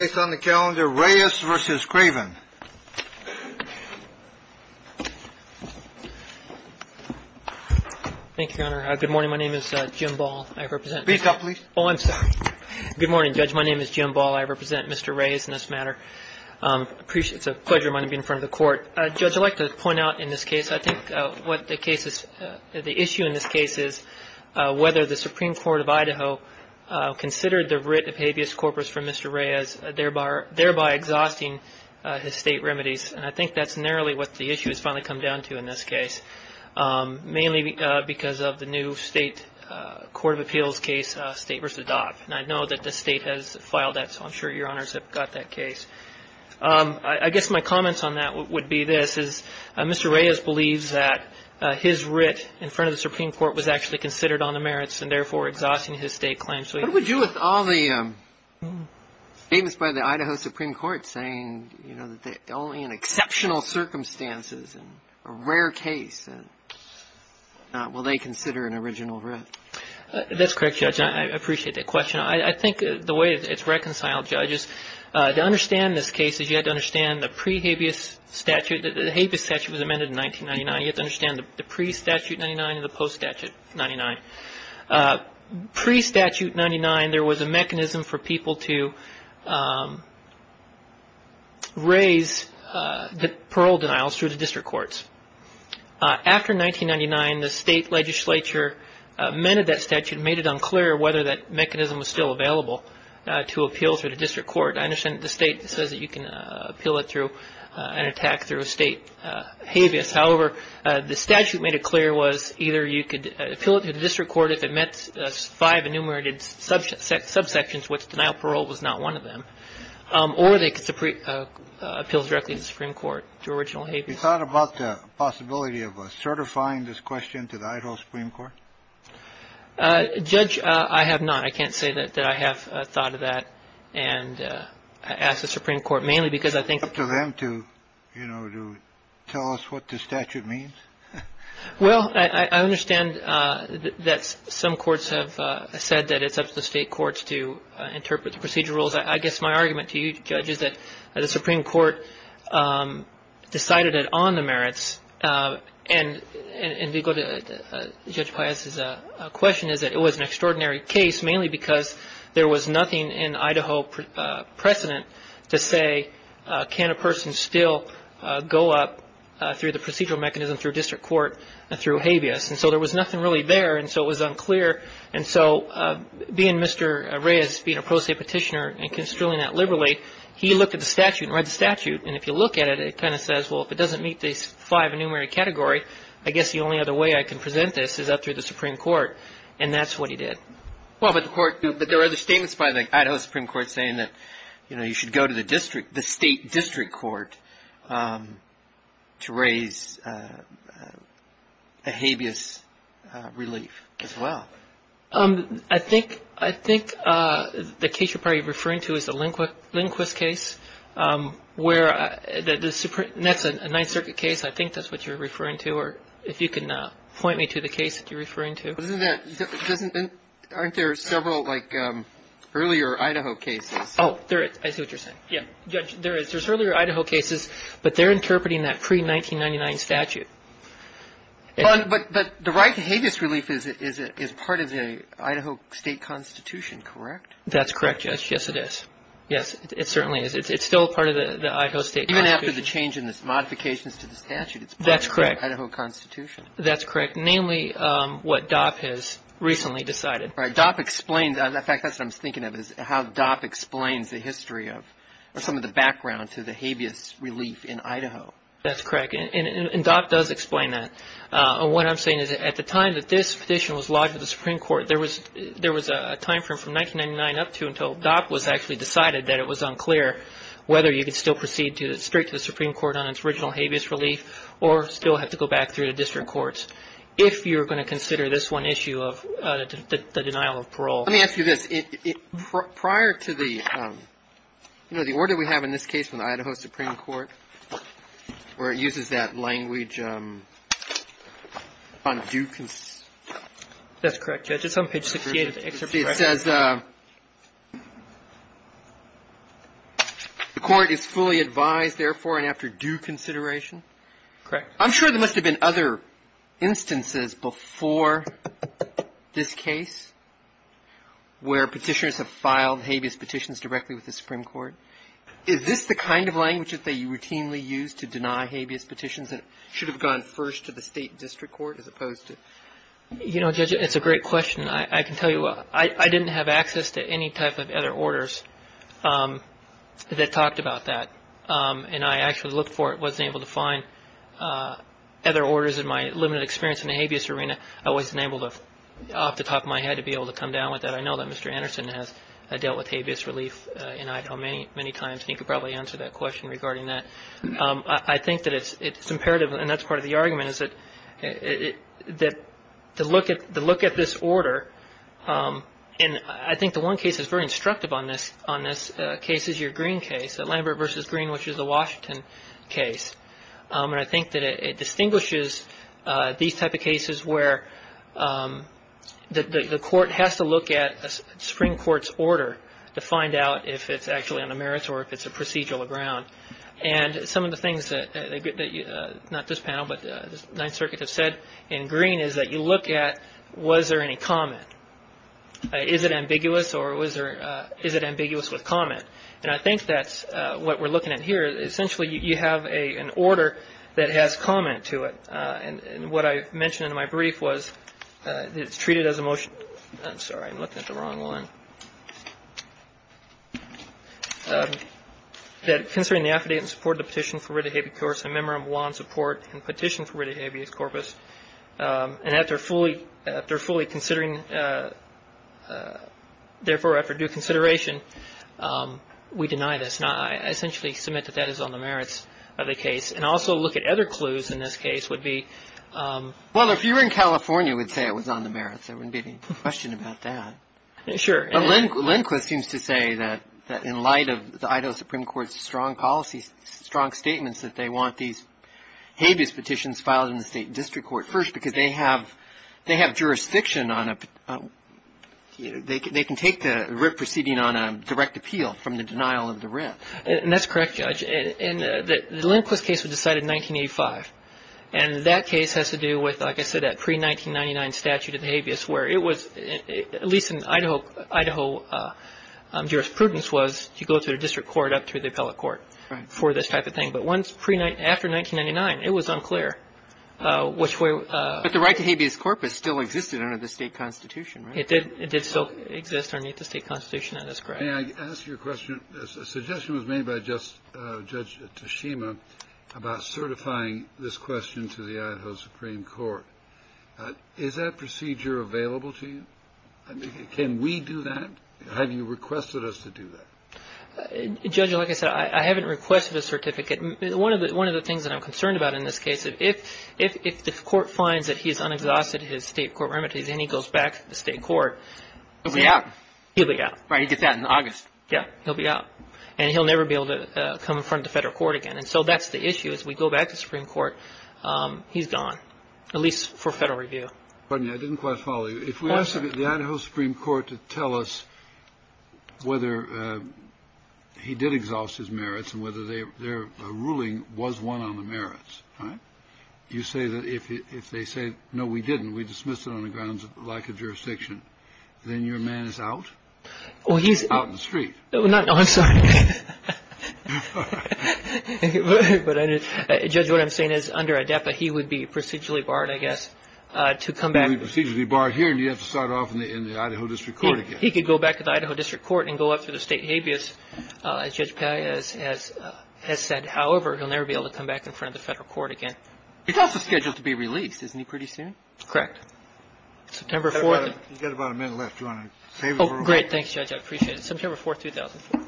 Good morning, Judge. My name is Jim Ball. I represent Mr. Reyes in this matter. It's a pleasure of mine to be in front of the court. Judge, I'd like to point out in this case, I think the issue in this case is whether the Supreme Court of Idaho considered the writ of habeas corpus from Mr. Reyes, thereby exhausting his state remedies. And I think that's narrowly what the issue has finally come down to in this case, mainly because of the new state court of appeals case, State v. Dodd. And I know that the State has filed that, so I'm sure Your Honors have got that case. I guess my comments on that would be this, is Mr. Reyes believes that his writ in front of the Supreme Court was actually considered on the merits, and therefore exhausting his state claims. What would you with all the statements by the Idaho Supreme Court saying, you know, that only in exceptional circumstances and a rare case will they consider an original writ? That's correct, Judge. I appreciate that question. I think the way it's reconciled, Judge, is to understand this case is you have to understand the pre-habeas statute. The habeas statute was amended in 1999. You have to understand the pre-statute 99 and the post-statute 99. Pre-statute 99, there was a mechanism for people to raise parole denials through the district courts. After 1999, the state legislature amended that statute and made it unclear whether that mechanism was still available to appeal through the district court. I understand the state says that you can appeal it through an attack through a state habeas. However, the statute made it clear was either you could appeal it to the district court if it met five enumerated subsections, which denial of parole was not one of them, or they could appeal directly to the Supreme Court through original habeas. Have you thought about the possibility of certifying this question to the Idaho Supreme Court? Judge, I have not. I can't say that I have thought of that. And I ask the Supreme Court mainly because I think... It's up to them to tell us what the statute means. Well, I understand that some courts have said that it's up to the state courts to interpret the procedure rules. I guess my argument to you, Judge, is that the Supreme Court decided it on the merits. And to go to Judge Paez's question is that it was an extraordinary case, mainly because there was nothing in Idaho precedent to say can a person still go up through the procedural mechanism, through district court, and through habeas. And so there was nothing really there, and so it was unclear. And so being Mr. Reyes, being a pro se petitioner and construing that liberally, he looked at the statute and read the statute. And if you look at it, it kind of says, well, if it doesn't meet this five enumerated category, I guess the only other way I can present this is up through the Supreme Court. And that's what he did. Well, but the court... But there are other statements by the Idaho Supreme Court saying that, you know, you should go to the district, the state district court to raise a habeas relief as well. I think the case you're probably referring to is the Lindquist case, where the Supreme... And that's a Ninth Circuit case. I think that's what you're referring to. Or if you can point me to the case that you're referring to. Isn't there... Aren't there several, like, earlier Idaho cases? Oh, there is. I see what you're saying. Yeah. There is. There's earlier Idaho cases, but they're interpreting that pre-1999 statute. But the right to habeas relief is part of the Idaho state constitution, correct? That's correct, Judge. Yes, it is. Yes, it certainly is. It's still part of the Idaho state constitution. Even after the change in the modifications to the statute, it's part of the Idaho constitution. That's correct. Namely, what DOP has recently decided. Right. DOP explained... In fact, that's what I was thinking of, is how DOP explains the history of, or some of the background to the habeas relief in Idaho. That's correct. And DOP does explain that. And what I'm saying is, at the time that this petition was lodged with the Supreme Court, there was a timeframe from 1999 up to until DOP was actually decided that it was unclear whether you could still proceed straight to the Supreme Court on its original habeas relief or still have to go back through the district courts, if you're going to consider this one issue of the denial of parole. Let me ask you this. Prior to the, you know, the order we have in this case from the Idaho Supreme Court, where it uses that language on due... That's correct, Judge. It's on page 68 of the excerpt. It says the court is fully advised, therefore, and after due consideration. Correct. I'm sure there must have been other instances before this case where petitioners have filed habeas petitions directly with the Supreme Court. Is this the kind of language that they routinely use to deny habeas petitions that should have gone first to the state district court as opposed to... You know, Judge, it's a great question. I can tell you I didn't have access to any type of other orders that talked about that. And I actually looked for it and wasn't able to find other orders in my limited experience in the habeas arena. I wasn't able to, off the top of my head, to be able to come down with that. I know that Mr. Anderson has dealt with habeas relief in Idaho many times, and he could probably answer that question regarding that. I think that it's imperative, and that's part of the argument, is that to look at this order, and I think the one case that's very instructive on this case is your Green case, Lambert v. Green, which is a Washington case. And I think that it distinguishes these type of cases where the court has to look at a Supreme Court's order to find out if it's actually on the merits or if it's a procedural ground. And some of the things that not this panel, but the Ninth Circuit has said in Green, is that you look at was there any comment. Is it ambiguous or is it ambiguous with comment? And I think that's what we're looking at here. Essentially, you have an order that has comment to it. And what I mentioned in my brief was it's treated as a motion. I'm sorry. I'm looking at the wrong one. That considering the affidavit in support of the petition for writ of habeas corpus, a memorandum of law in support and petition for writ of habeas corpus, and after fully considering, therefore, after due consideration, we deny this. I essentially submit that that is on the merits of the case. And also look at other clues in this case would be. Well, if you were in California, you would say it was on the merits. There wouldn't be any question about that. Sure. Lindquist seems to say that in light of the Idaho Supreme Court's strong policy, strong statements that they want these habeas petitions filed in the state district court first because they have jurisdiction on it. They can take the writ proceeding on a direct appeal from the denial of the writ. And that's correct, Judge. And the Lindquist case was decided in 1985. And that case has to do with, like I said, that pre-1999 statute of habeas where it was, at least in Idaho jurisprudence, was you go to the district court up through the appellate court. Right. For this type of thing. But once pre-1999, after 1999, it was unclear which way. But the right to habeas corpus still existed under the state constitution, right? It did. It did still exist underneath the state constitution. That is correct. May I ask you a question? A suggestion was made by Judge Tashima about certifying this question to the Idaho Supreme Court. Is that procedure available to you? Can we do that? Have you requested us to do that? Judge, like I said, I haven't requested a certificate. One of the things that I'm concerned about in this case, if the court finds that he's unexhausted in his state court remedies and he goes back to the state court. He'll be out. He'll be out. Right. He gets out in August. Yeah. He'll be out. And he'll never be able to come in front of the Federal Court again. And so that's the issue. As we go back to the Supreme Court, he's gone, at least for Federal review. Pardon me. I didn't quite follow you. If we ask the Idaho Supreme Court to tell us whether he did exhaust his merits and whether their ruling was one on the merits, you say that if they say, no, we didn't, we dismissed it on the grounds of lack of jurisdiction, then your man is out? Out in the street. I'm sorry. Judge, what I'm saying is, under ADEPA, he would be procedurally barred, I guess, to come back. He would be procedurally barred here and you'd have to start off in the Idaho District Court again. He could go back to the Idaho District Court and go up through the state habeas, as Judge Paglia has said. However, he'll never be able to come back in front of the Federal Court again. He's also scheduled to be released, isn't he, pretty soon? Correct. September 4th. You've got about a minute left. Do you want to save it for later? Oh, great. Thanks, Judge. I appreciate it. September 4th, 2004.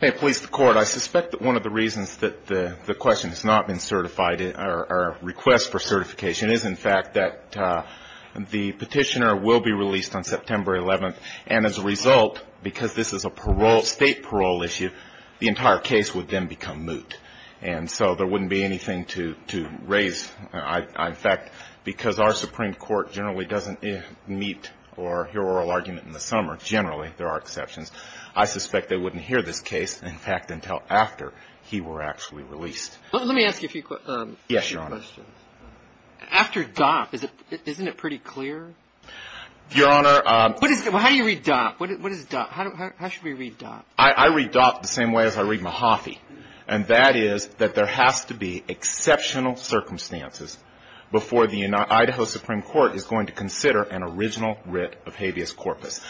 May it please the Court, I suspect that one of the reasons that the question has not been certified, or request for certification, is, in fact, that the Petitioner will be released on September 11th, and as a result, because this is a parole, state parole issue, the entire case would then become moot. And so there wouldn't be anything to raise concerns about. In fact, because our Supreme Court generally doesn't meet or hear oral argument in the summer, generally, there are exceptions, I suspect they wouldn't hear this case, in fact, until after he were actually released. Let me ask you a few questions. Yes, Your Honor. After Dopp, isn't it pretty clear? Your Honor. How do you read Dopp? How should we read Dopp? I read Dopp the same way as I read Mahaffey, and that is that there has to be exceptional circumstances before the Idaho Supreme Court is going to consider an original writ of habeas corpus.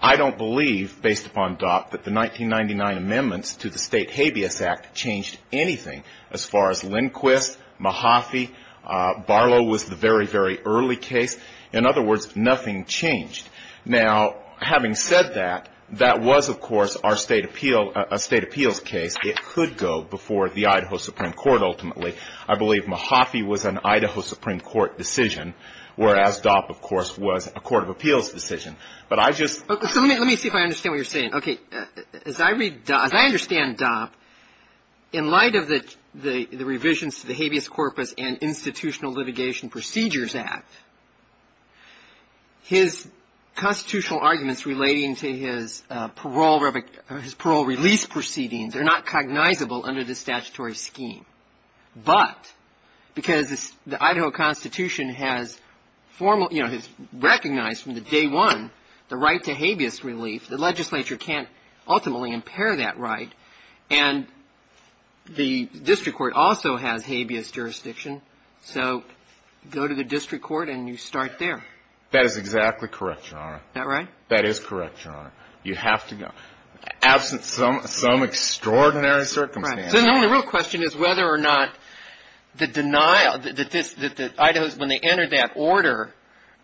I don't believe, based upon Dopp, that the 1999 amendments to the State Habeas Act changed anything as far as Lindquist, Mahaffey, Barlow was the very, very early case. In other words, nothing changed. Now, having said that, that was, of course, our State appeal – a State appeals case. It could go before the Idaho Supreme Court ultimately. I believe Mahaffey was an Idaho Supreme Court decision, whereas Dopp, of course, was a court of appeals decision. But I just – Let me see if I understand what you're saying. Okay. As I read – as I understand Dopp, in light of the revisions to the Habeas Corpus and constitutional arguments relating to his parole release proceedings, they're not cognizable under the statutory scheme. But because the Idaho Constitution has formal – you know, has recognized from day one the right to habeas relief, the legislature can't ultimately impair that right, and the district court also has habeas jurisdiction. So go to the district court, and you start there. That is exactly correct, Your Honor. Is that right? That is correct, Your Honor. You have to go. Absent some – some extraordinary circumstances. Right. So the only real question is whether or not the denial – that this – that the Idahos, when they entered that order,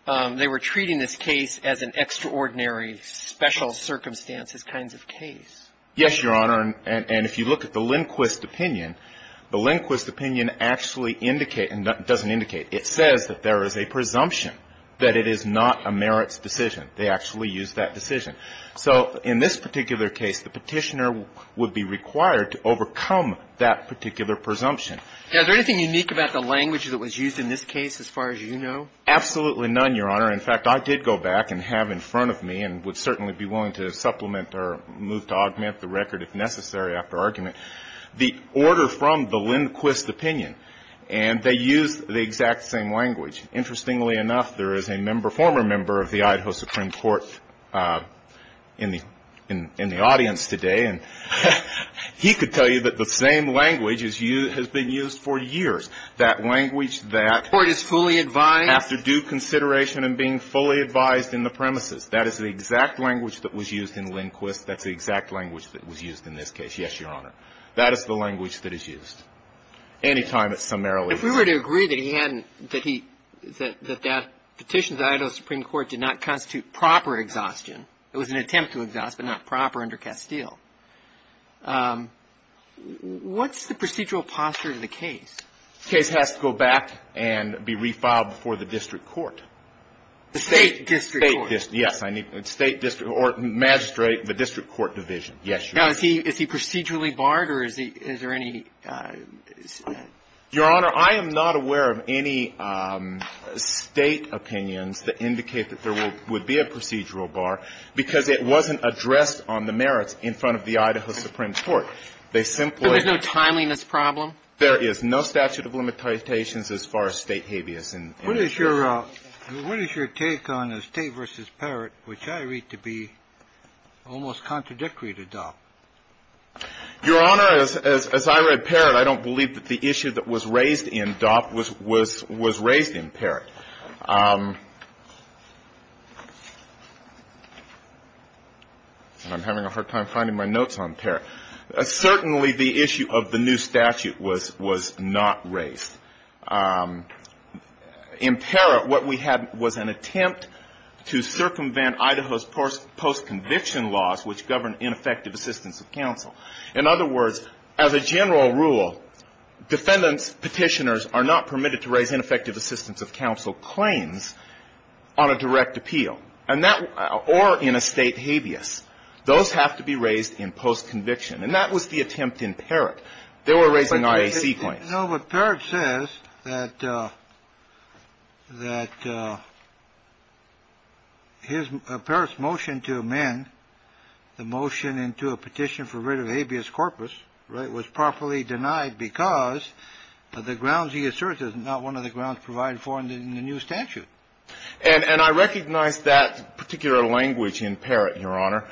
they were treating this case as an extraordinary special circumstances kinds of case. Yes, Your Honor. And if you look at the Lindquist opinion, the Lindquist opinion actually indicate – doesn't indicate. It says that there is a presumption that it is not a merits decision. They actually used that decision. So in this particular case, the Petitioner would be required to overcome that particular presumption. Now, is there anything unique about the language that was used in this case as far as you know? Absolutely none, Your Honor. In fact, I did go back and have in front of me, and would certainly be willing to supplement or move to augment the record if necessary after argument, the order from the Lindquist opinion. And they used the exact same language. Interestingly enough, there is a member – former member of the Idaho Supreme Court in the audience today, and he could tell you that the same language has been used for years. That language that – Or it is fully advised. After due consideration and being fully advised in the premises. That is the exact language that was used in Lindquist. That's the exact language that was used in this case. Yes, Your Honor. That is the language that is used. Anytime it's summarily used. If we were to agree that he hadn't – that he – that that petition to the Idaho Supreme Court did not constitute proper exhaustion, it was an attempt to exhaust, but not proper under Castile, what's the procedural posture of the case? The case has to go back and be refiled before the district court. The State District Court. Yes, I need – State District – or magistrate, the district court division. Yes, Your Honor. Now, is he – is he procedurally barred, or is he – is there any – Your Honor, I am not aware of any State opinions that indicate that there would be a procedural bar because it wasn't addressed on the merits in front of the Idaho Supreme Court. They simply – So there's no timeliness problem? There is no statute of limitations as far as State habeas in this case. What is your – what is your take on the State v. Parrott, which I read to be almost contradictory to Dopp? Your Honor, as I read Parrott, I don't believe that the issue that was raised in Dopp was raised in Parrott. And I'm having a hard time finding my notes on Parrott. Certainly the issue of the new statute was not raised. In Parrott, what we had was an attempt to circumvent Idaho's post-conviction laws, which govern ineffective assistance of counsel. In other words, as a general rule, defendants, petitioners are not permitted to raise ineffective assistance of counsel claims on a direct appeal. And that – or in a State habeas. Those have to be raised in post-conviction. And that was the attempt in Parrott. They were raising IAC claims. No, but Parrott says that his – Parrott's motion to amend the motion into a petition for rid of habeas corpus, right, was properly denied because of the grounds he asserted, not one of the grounds provided for in the new statute. And I recognize that particular language in Parrott, Your Honor.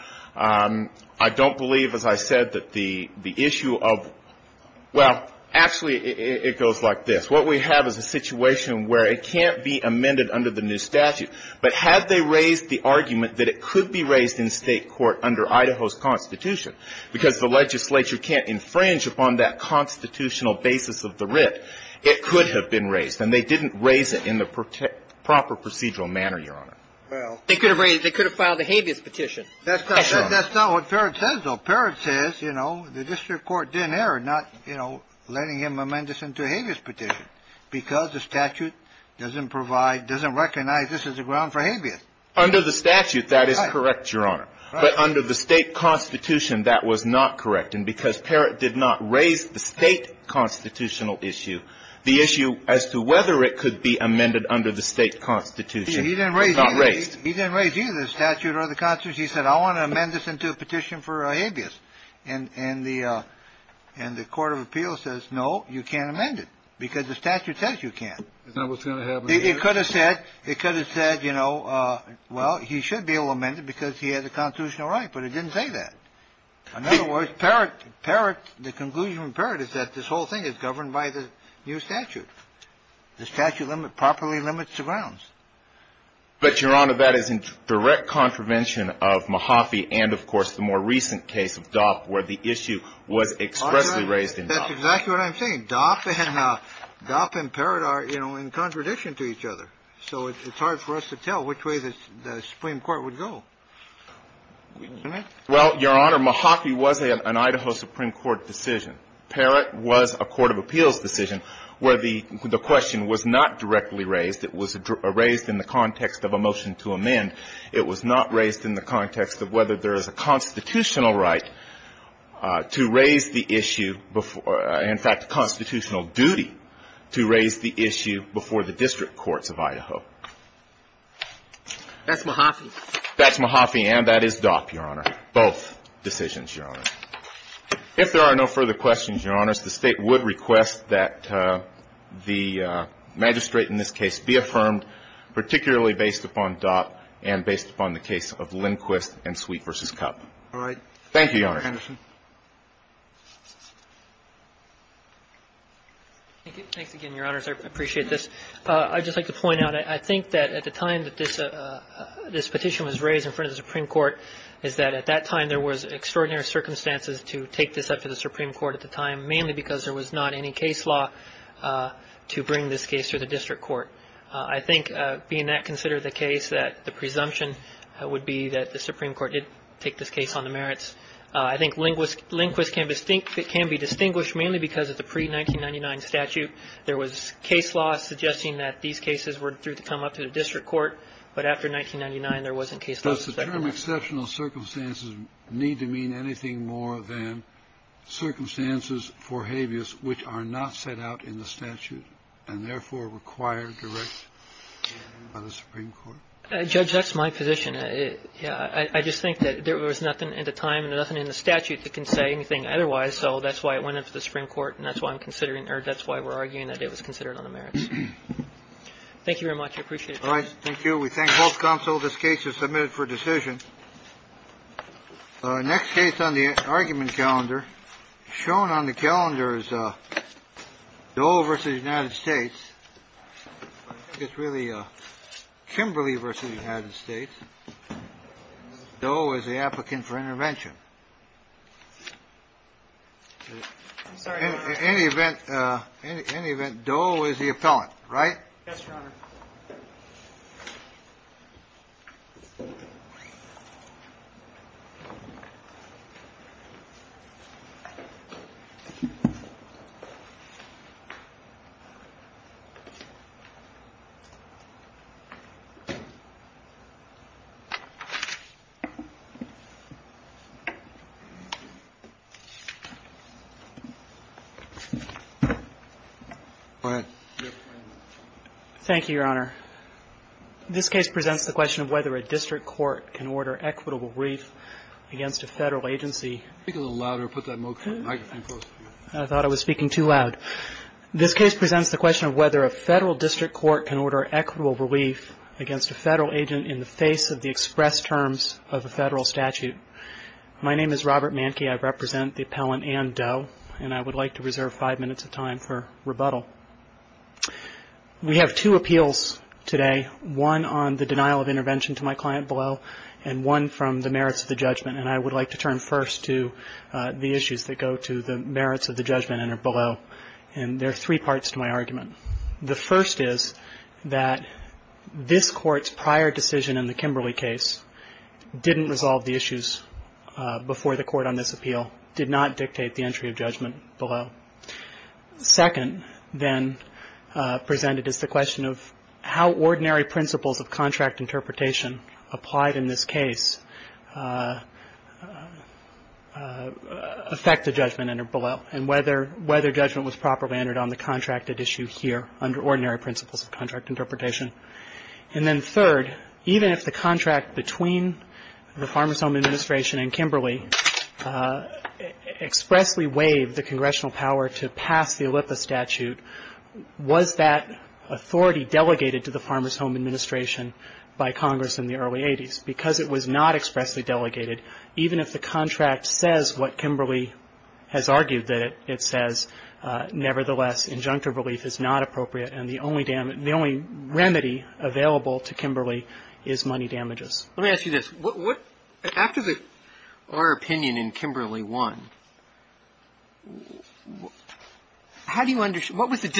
I don't believe, as I said, that the issue of – well, actually, it goes like this. What we have is a situation where it can't be amended under the new statute. But had they raised the argument that it could be raised in State court under Idaho's Constitution because the legislature can't infringe upon that constitutional basis of the writ, it could have been raised. And they didn't raise it in the proper procedural manner, Your Honor. They could have filed a habeas petition. That's not what Parrott says, though. Parrott says, you know, the district court didn't err, not, you know, letting him amend this into a habeas petition because the statute doesn't provide – doesn't recognize this as a ground for habeas. Under the statute, that is correct, Your Honor. But under the State Constitution, that was not correct. And because Parrott did not raise the State constitutional issue, the issue as to whether it could be amended under the State Constitution was not raised. He didn't raise either the statute or the Constitution. He said, I want to amend this into a petition for habeas. And the court of appeals says, no, you can't amend it because the statute says you can't. Is that what's going to happen? It could have said, you know, well, he should be able to amend it because he has a constitutional right. But it didn't say that. In other words, Parrott – the conclusion from Parrott is that this whole thing is governed by the new statute. The statute properly limits the grounds. But, Your Honor, that is in direct contravention of Mahaffey and, of course, the more recent case of Dopp where the issue was expressly raised in Dopp. That's exactly what I'm saying. Dopp and Parrott are, you know, in contradiction to each other. So it's hard for us to tell which way the Supreme Court would go. Well, Your Honor, Mahaffey was an Idaho Supreme Court decision. Parrott was a court of appeals decision where the question was not directly raised. It was raised in the context of a motion to amend. It was not raised in the context of whether there is a constitutional right to raise the issue before – in fact, a constitutional duty to raise the issue before the district courts of Idaho. That's Mahaffey. That's Mahaffey and that is Dopp, Your Honor, both decisions, Your Honor. If there are no further questions, Your Honors, the State would request that the magistrate in this case be affirmed, particularly based upon Dopp and based upon the case of Lindquist and Sweet v. Cup. All right. Thank you, Your Honor. Thank you, Mr. Anderson. Thanks again, Your Honors. I appreciate this. I'd just like to point out, I think that at the time that this petition was raised in front of the Supreme Court is that at that time there was extraordinary circumstances to take this up to the Supreme Court at the time, mainly because there was not any case law to bring this case to the district court. I think, being that considered the case, that the presumption would be that the Supreme Court did take this case on the merits. I think Lindquist can be distinguished mainly because of the pre-1999 statute. There was case law suggesting that these cases were due to come up to the district court, but after 1999 there wasn't case law. Does the term exceptional circumstances need to mean anything more than circumstances for habeas which are not set out in the statute and, therefore, require direct by the Supreme Court? Judge, that's my position. I just think that there was nothing at the time and nothing in the statute that can say anything otherwise. So that's why it went up to the Supreme Court and that's why I'm considering or that's why we're arguing that it was considered on the merits. Thank you very much. I appreciate it. All right. Thank you. We thank both counsel. This case is submitted for decision. Next case on the argument calendar. Shown on the calendar is Doe v. United States. I think it's really Kimberly v. United States. Doe is the applicant for intervention. In any event, Doe is the appellant, right? Yes, Your Honor. All right. Go ahead. Thank you, Your Honor. This case presents the question of whether a district court can order equitable relief against a Federal agency. Speak a little louder. Put that microphone closer to you. I thought I was speaking too loud. This case presents the question of whether a Federal district court can order equitable relief against a Federal agent in the face of the express terms of a Federal statute. My name is Robert Manke. I represent the appellant Ann Doe. And I would like to reserve five minutes of time for rebuttal. We have two appeals today, one on the denial of intervention to my client below and one from the merits of the judgment. And I would like to turn first to the issues that go to the merits of the judgment and are below. And there are three parts to my argument. The first is that this Court's prior decision in the Kimberly case didn't resolve the issues before the Court on this appeal, did not dictate the entry of judgment below. Second, then, presented is the question of how ordinary principles of contract interpretation applied in this case affect the judgment and are below, and whether judgment was properly entered on the contracted issue here under ordinary principles of contract interpretation. And then third, even if the contract between the Farmers Home Administration and Kimberly expressly waived the congressional power to pass the OLYMPUS statute, was that authority delegated to the Farmers Home Administration by Congress in the early 80s? Because it was not expressly delegated, even if the contract says what Kimberly has argued that it says, nevertheless, injunctive relief is not appropriate and the only remedy available to Kimberly is money damages. Let me ask you this. After our opinion in Kimberly won, how do you understand, what was the